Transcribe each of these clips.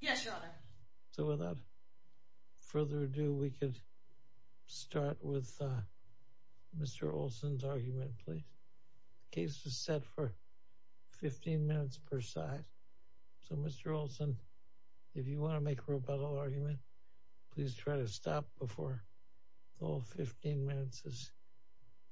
Yes your honor. So without further ado we could start with Mr. Olson's argument please. The case was set for 15 minutes per side so Mr. Olson if you want to make a rebuttal argument please try to stop before all 15 minutes is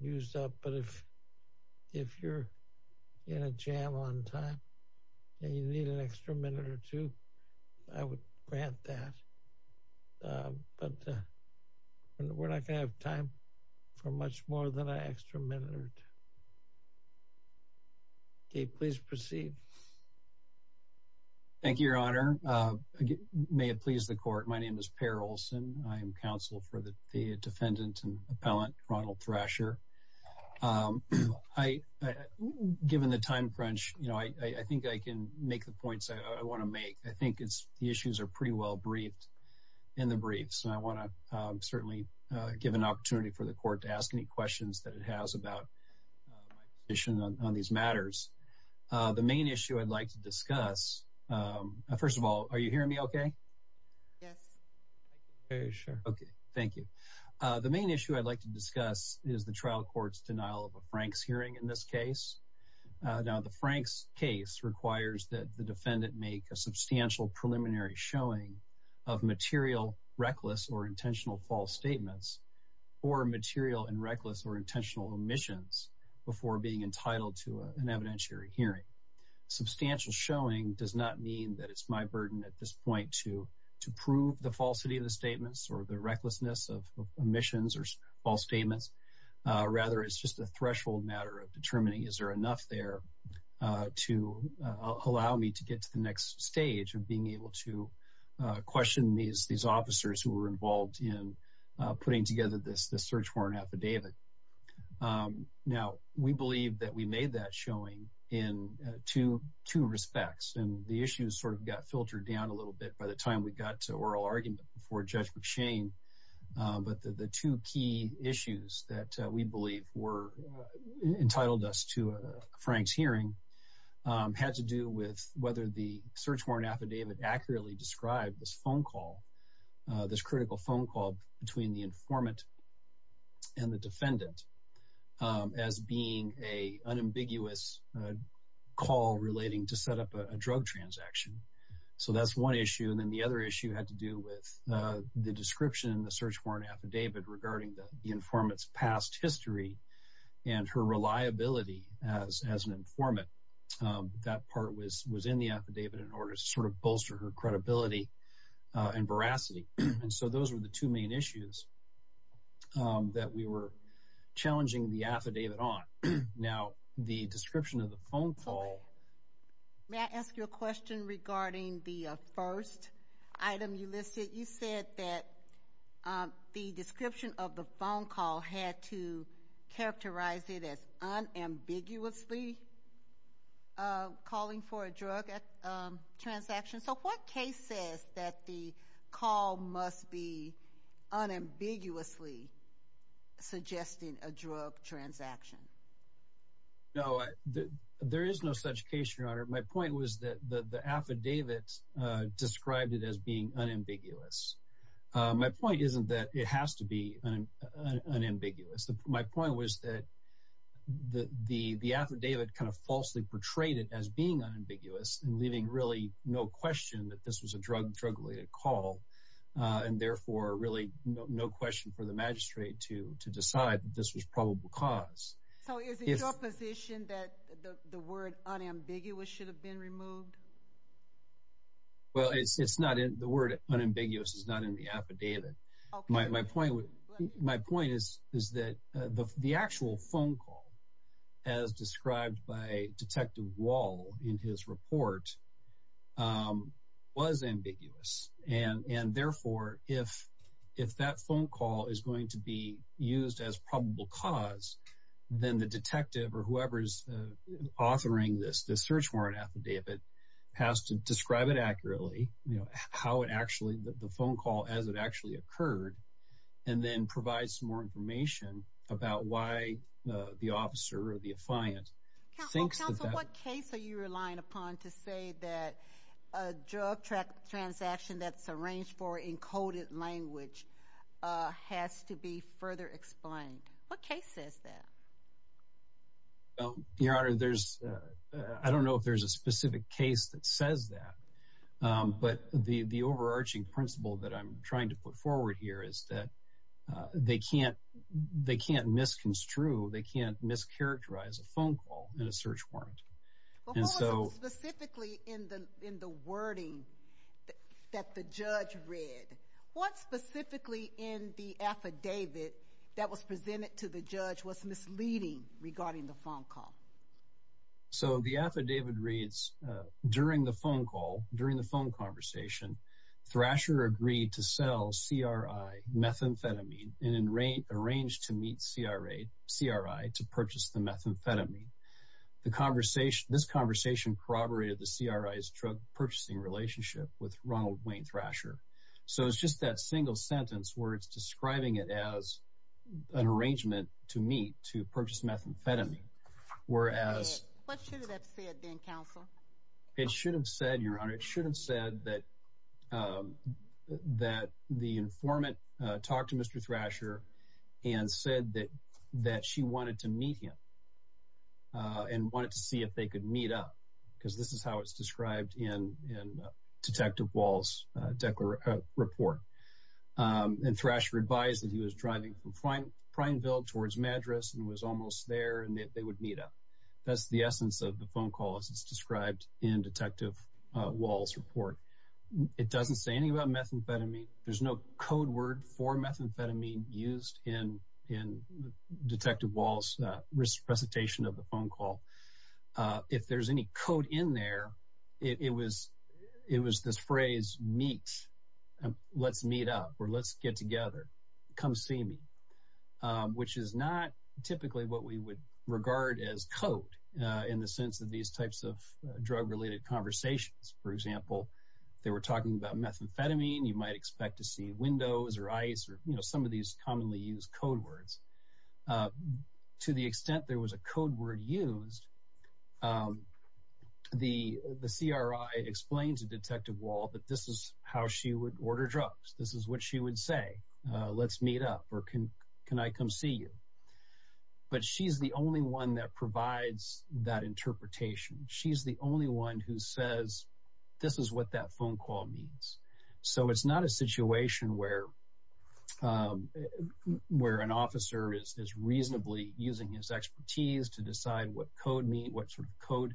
used up but if if you're in a jam on time and you need an extra minute or two I would grant that but we're not gonna have time for much more than an extra minute or two. Okay please proceed. Thank you your honor. May it please the court my name is Per Olson. I am counsel for the I given the time crunch you know I think I can make the points I want to make. I think it's the issues are pretty well briefed in the briefs and I want to certainly give an opportunity for the court to ask any questions that it has about my position on these matters. The main issue I'd like to discuss first of all are you hearing me okay? Yes. Okay thank you. The main issue I'd discuss is the trial court's denial of a Frank's hearing in this case. Now the Frank's case requires that the defendant make a substantial preliminary showing of material reckless or intentional false statements or material and reckless or intentional omissions before being entitled to an evidentiary hearing. Substantial showing does not mean that it's my burden at this point to to prove the statements. Rather it's just a threshold matter of determining is there enough there to allow me to get to the next stage of being able to question these these officers who were involved in putting together this this search warrant affidavit. Now we believe that we made that showing in two two respects and the issues sort of got filtered down a little bit by the time we got to oral argument before Judge McShane but the two key issues that we believe were entitled us to a Frank's hearing had to do with whether the search warrant affidavit accurately described this phone call this critical phone call between the informant and the defendant as being a unambiguous call relating to set up a drug transaction. So that's one issue and then the other issue had to do with the description in the search warrant affidavit regarding the informant's past history and her reliability as an informant that part was was in the affidavit in order to sort of bolster her credibility and veracity and so those were the two main issues that we were challenging the affidavit on. Now the description of the phone call may I ask you a question regarding the first item you listed you said that the description of the phone call had to characterize it as unambiguously calling for a drug transaction so what case says that the call must be unambiguously suggesting a drug transaction? No there is no such case your honor my point was that the affidavit described it as being unambiguous my point isn't that it has to be unambiguous my point was that the the affidavit kind of falsely portrayed it as being unambiguous and leaving really no question that this was a drug drug-related call and therefore really no question for the magistrate to to decide that this was probable cause. So is it your position that the the word unambiguous should have been removed? Well it's it's not in the word unambiguous is not in the affidavit my point my point is is that the the actual phone call as described by that phone call is going to be used as probable cause then the detective or whoever's authoring this the search warrant affidavit has to describe it accurately you know how it actually the phone call as it actually occurred and then provide some more information about why the officer or the affiant thinks that. Counsel what case are you relying upon to say that drug transaction that's arranged for in coded language has to be further explained what case says that? Well your honor there's I don't know if there's a specific case that says that but the the overarching principle that I'm trying to put forward here is that they can't they can't misconstrue they can't mischaracterize a phone call in a search warrant but what was it specifically in the in the wording that the judge read what specifically in the affidavit that was presented to the judge was misleading regarding the phone call? So the affidavit reads during the phone call during the phone conversation Thrasher agreed to sell CRI methamphetamine and arranged to meet CRI to purchase the methamphetamine the conversation this conversation corroborated the CRI's drug purchasing relationship with Ronald Wayne Thrasher so it's just that single sentence where it's describing it as an arrangement to meet to purchase methamphetamine whereas what should have that said then counsel? It should have said your honor it should have said that that the informant talked to Mr. Thrasher and said that that she wanted to meet him and wanted to see if they could meet up because this is how it's described in in Detective Wall's report and Thrasher advised that he was driving from Prineville towards Madras and was almost there and that they would meet up that's the essence of the phone call as it's described in Detective Wall's report it doesn't say anything methamphetamine there's no code word for methamphetamine used in in Detective Wall's presentation of the phone call if there's any code in there it was it was this phrase meet let's meet up or let's get together come see me which is not typically what we would regard as code in the sense of these types of drug related conversations for example they were talking about methamphetamine you might expect to see windows or ice or you know some of these commonly used code words to the extent there was a code word used the the CRI explained to Detective Wall that this is how she would order drugs this is what she would say let's meet up or can can I come see you but she's the only one that provides that interpretation she's the only one who says this is what that phone call means so it's not a situation where where an officer is reasonably using his expertise to decide what code mean what sort of code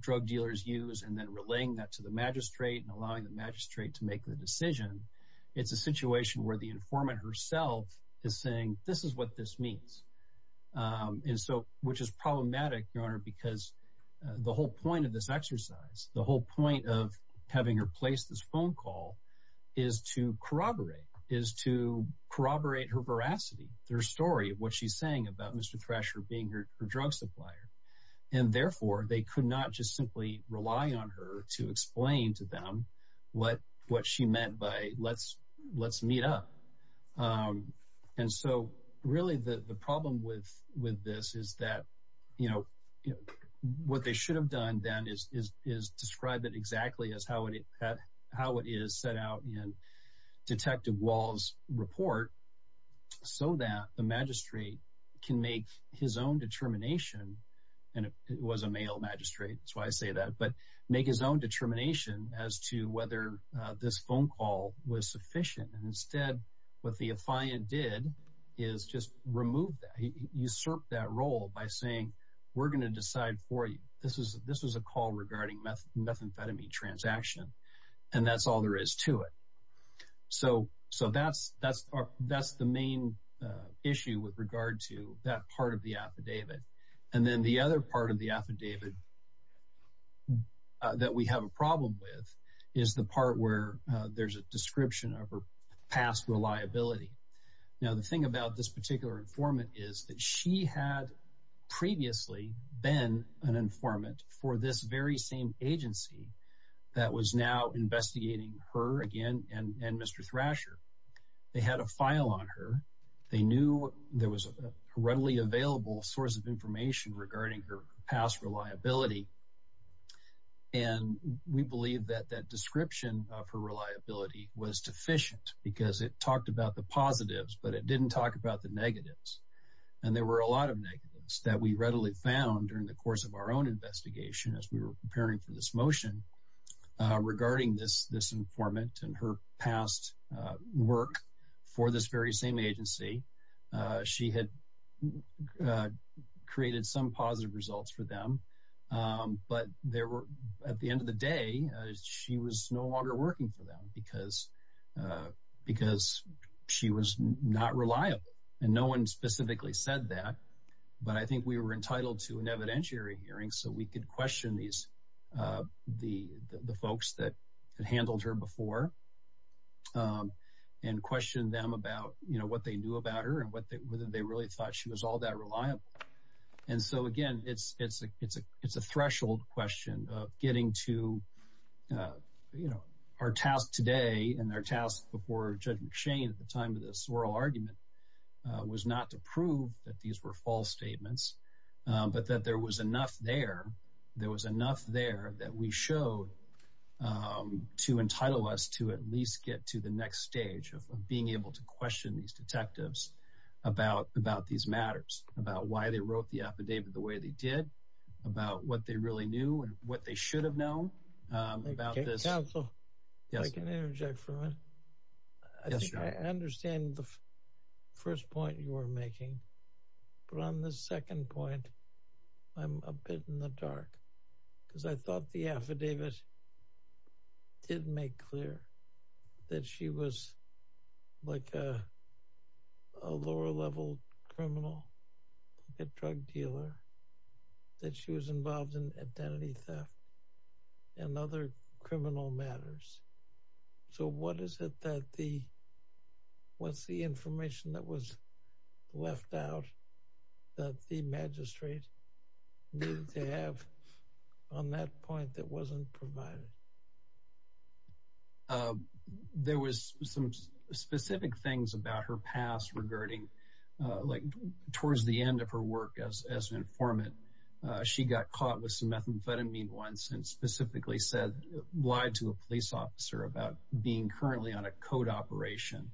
drug dealers use and then relaying that to the magistrate and allowing the magistrate to make the decision it's a situation where the informant herself is saying this is what this means and so which is problematic your honor because the whole point of this exercise the whole point of having her place this phone call is to corroborate is to corroborate her veracity their story of what she's saying about Mr. Thrasher being her drug supplier and therefore they could not just simply rely on her to explain to them what what she meant by let's let's meet up and so really the the problem with with this is that you know you know what they should have done then is is is described it exactly as how it had how it is set out in Detective Wall's report so that the magistrate can make his own determination and it was a male magistrate that's why I say that but make his own determination as to whether this phone call was sufficient and instead what the affiant did is just remove that usurp that role by saying we're going to decide for you this is this was a call regarding methamphetamine transaction and that's all there is to it so so that's that's that's the main issue with regard to that part of the affidavit and then the other part of the affidavit that we have a problem with is the part where there's a description of her past reliability now the thing about this particular informant is that she had previously been an informant for this very same agency that was now investigating her again and and Mr. Thrasher they had a file on her they knew there was a readily available source of information regarding her past reliability and we believe that that description of her reliability was deficient because it talked about the positives but it didn't talk about the negatives and there were a lot of negatives that we readily found during the course of our own investigation as we were preparing for this motion regarding this this informant and her past work for this very same agency she had created some positive results for them but there were at the end of the day she was no longer working for them because because she was not reliable and no one specifically said that but I think we were entitled to an evidentiary hearing so we could question these the the folks that had handled her before and question them about you know what they knew about her and what they whether they really thought she was all that reliable and so again it's it's a it's a it's a threshold question of getting to you know our task today and our task before Judge McShane at the time of this oral argument was not to prove that these were false statements but that there was enough there there was enough there that we showed to entitle us to at least get to the next stage of being able to question these detectives about about these matters about why they wrote the affidavit the way they did about what they really knew and what they should have known about this counsel yes I can interject for a minute I think I understand the first point you were making but on the second point I'm a bit in the dark because I thought the affidavit did make clear that she was like a lower level criminal like a drug dealer that she was involved in identity theft and other criminal matters so what is it that the what's the information that was left out that the magistrate needed to have on that point that wasn't provided there was some specific things about her past regarding like towards the end of her work as as an informant she got caught with some methamphetamine once and specifically said lied to a police officer about being currently on a code operation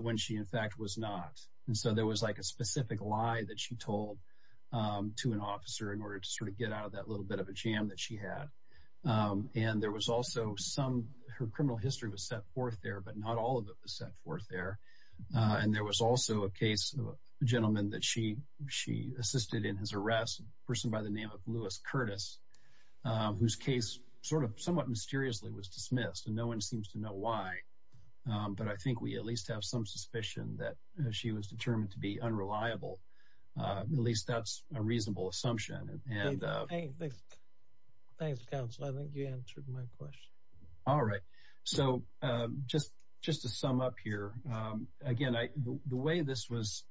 when she in fact was not and so there was like a specific lie that she told to an officer in order to sort of get out of that little bit of a jam that she had and there was also some her criminal history was set forth there but not all of it was set forth there and there was also a case of a gentleman that she she by the name of lewis curtis whose case sort of somewhat mysteriously was dismissed and no one seems to know why but I think we at least have some suspicion that she was determined to be unreliable at least that's a reasonable assumption and thanks counsel I think you answered my question all right so just just to sum up here again I the way this was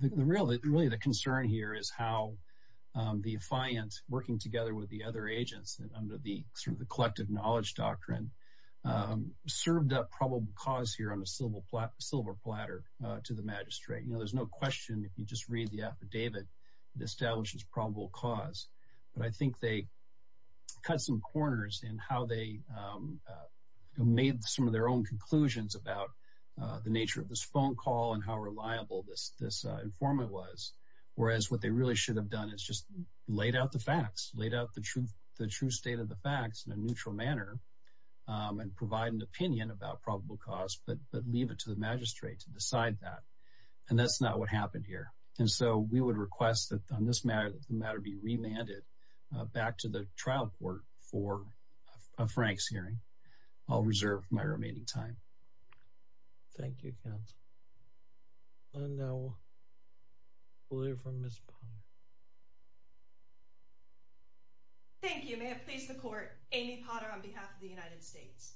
the real really the concern here is how the defiant working together with the other agents that under the sort of the collective knowledge doctrine served up probable cause here on a silver silver platter to the magistrate you know there's no question if you just read the affidavit it establishes probable cause but I think they cut some corners in how they made some of their own conclusions about the nature of this phone call and how reliable this this informant was whereas what they really should have done is just laid out the facts laid out the truth the true state of the facts in a neutral manner and provide an opinion about probable cause but but leave it to the magistrate to decide that and that's not what happened here and so we would request that on this matter the matter be remanded back to the trial court for a frank's hearing I'll reserve my remaining time thank you counsel and now we'll hear from miss potter thank you may it please the court amy potter on behalf of the united states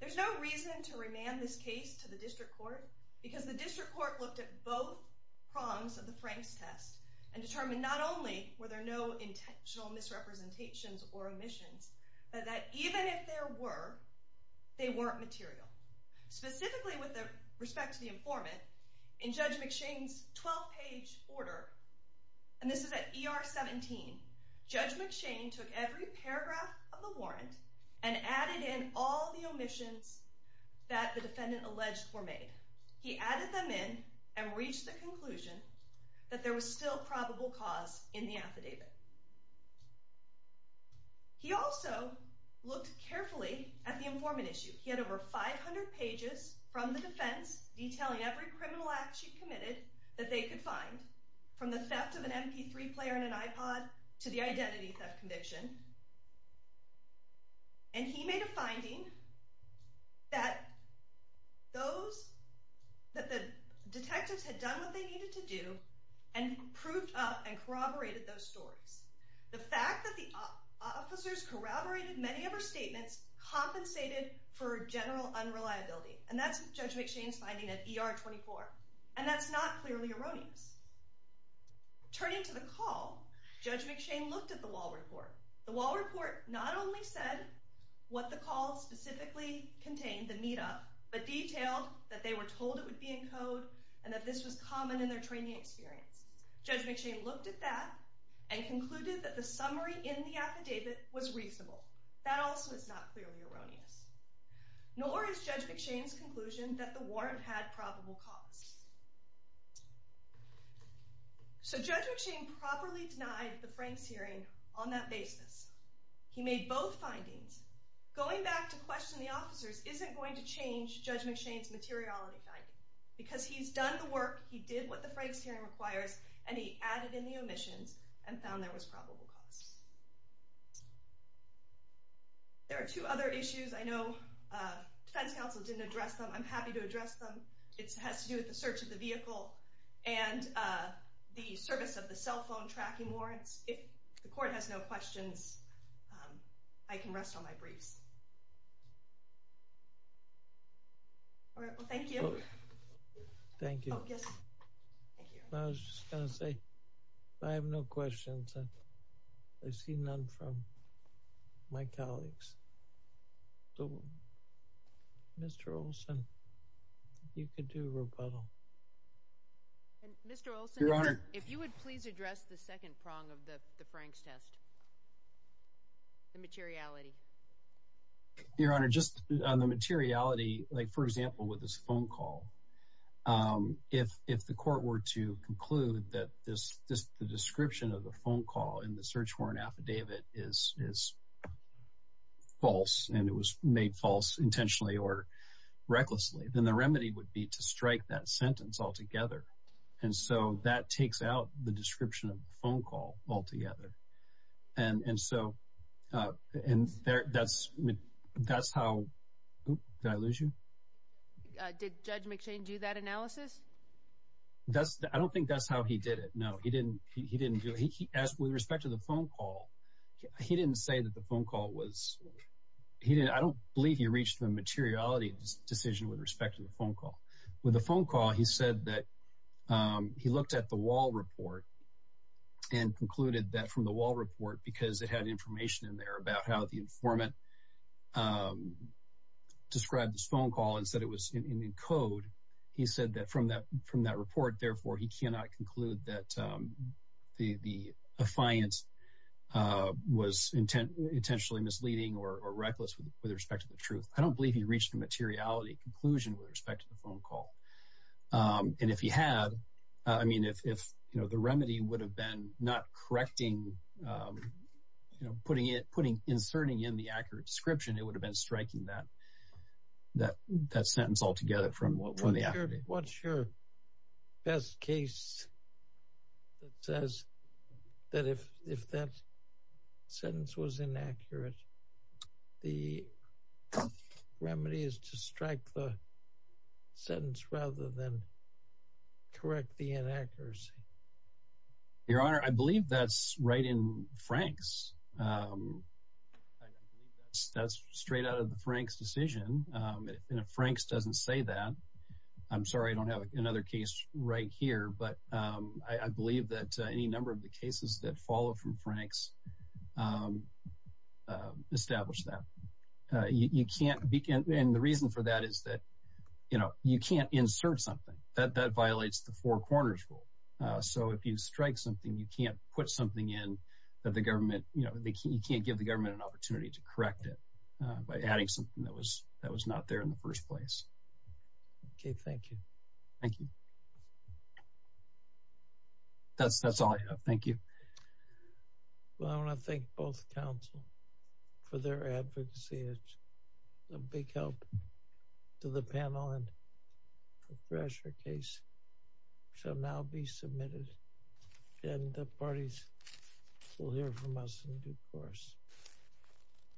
there's no reason to remand this case to the district court because the district court looked at both prongs of the frank's test and determined not only were there no intentional misrepresentations or omissions but that even if there were they weren't material specifically with respect to the informant in judge mcshane's 12 page order and this is at er 17 judge mcshane took every paragraph of the warrant and added in all the omissions that the defendant alleged were made he added them in and reached the conclusion that there was still probable cause in the affidavit he also looked carefully at the informant issue he had over 500 pages from the defense detailing every criminal act she committed that they could find from the theft of an mp3 player in an ipod to the identity theft conviction and he made a finding that those that the detectives had done needed to do and proved up and corroborated those stories the fact that the officers corroborated many of her statements compensated for general unreliability and that's judge mcshane's finding at er 24 and that's not clearly erroneous turning to the call judge mcshane looked at the wall report the wall report not only said what the call specifically contained the meetup but detailed that they were told it would be in code and that this was common in their training experience judge mcshane looked at that and concluded that the summary in the affidavit was reasonable that also is not clearly erroneous nor is judge mcshane's conclusion that the warrant had probable cause so judge mcshane properly denied the frank's hearing on that basis he made both findings going back to question the officers isn't going to change judge mcshane's materiality finding because he's done the work he did what the frank's hearing requires and he added in the omissions and found there was probable cause there are two other issues i know uh defense counsel didn't address them i'm happy to address them it has to do with the search of the vehicle and uh the service of the cell phone tracking if the court has no questions um i can rest on my briefs all right well thank you thank you yes thank you i was just gonna say i have no questions and i see none from my colleagues so mr olson you could do rebuttal and mr olson your honor if you would please address the second prong of the the frank's test the materiality your honor just on the materiality like for example with this phone call um if if the court were to conclude that this this the description of the phone call in the search warrant affidavit is is false and it was made false intentionally or recklessly then the remedy would be to strike that sentence altogether and so that takes out the description of the phone call altogether and and so uh and there that's that's how did i lose you did judge mccain do that analysis that's i don't think that's how he did it no he didn't he didn't do he asked with respect to the phone call he didn't say that the phone call was he didn't i don't believe he reached the materiality decision with respect to the phone call with a phone call he said that um he looked at the wall report and concluded that from the wall report because it had information in there about how the informant um described this phone call and said it was in in code he said that from that from that report therefore he cannot conclude that um the the affiance uh was intent intentionally misleading or reckless with respect to the truth i don't believe he reached the materiality conclusion with respect to the phone call um and if he had i mean if if you know the remedy would have been not correcting um you know putting it putting inserting in the accurate description it would have been striking that that that sentence altogether from what what's your best case that says that if if that sentence was inaccurate the remedy is to strike the sentence rather than correct the inaccuracy your honor i believe that's right in frank's um i believe that's straight out of the frank's um and if frank's doesn't say that i'm sorry i don't have another case right here but um i believe that any number of the cases that follow from frank's um uh establish that uh you can't begin and the reason for that is that you know you can't insert something that that violates the four corners rule uh so if you strike something you can't put something in that the government you know they can't give the government an opportunity to correct it by adding something that was not there in the first place okay thank you thank you that's that's all i have thank you well i want to thank both council for their advocacy it's a big help to the panel and professor case shall now be submitted and the parties will hear from us in due course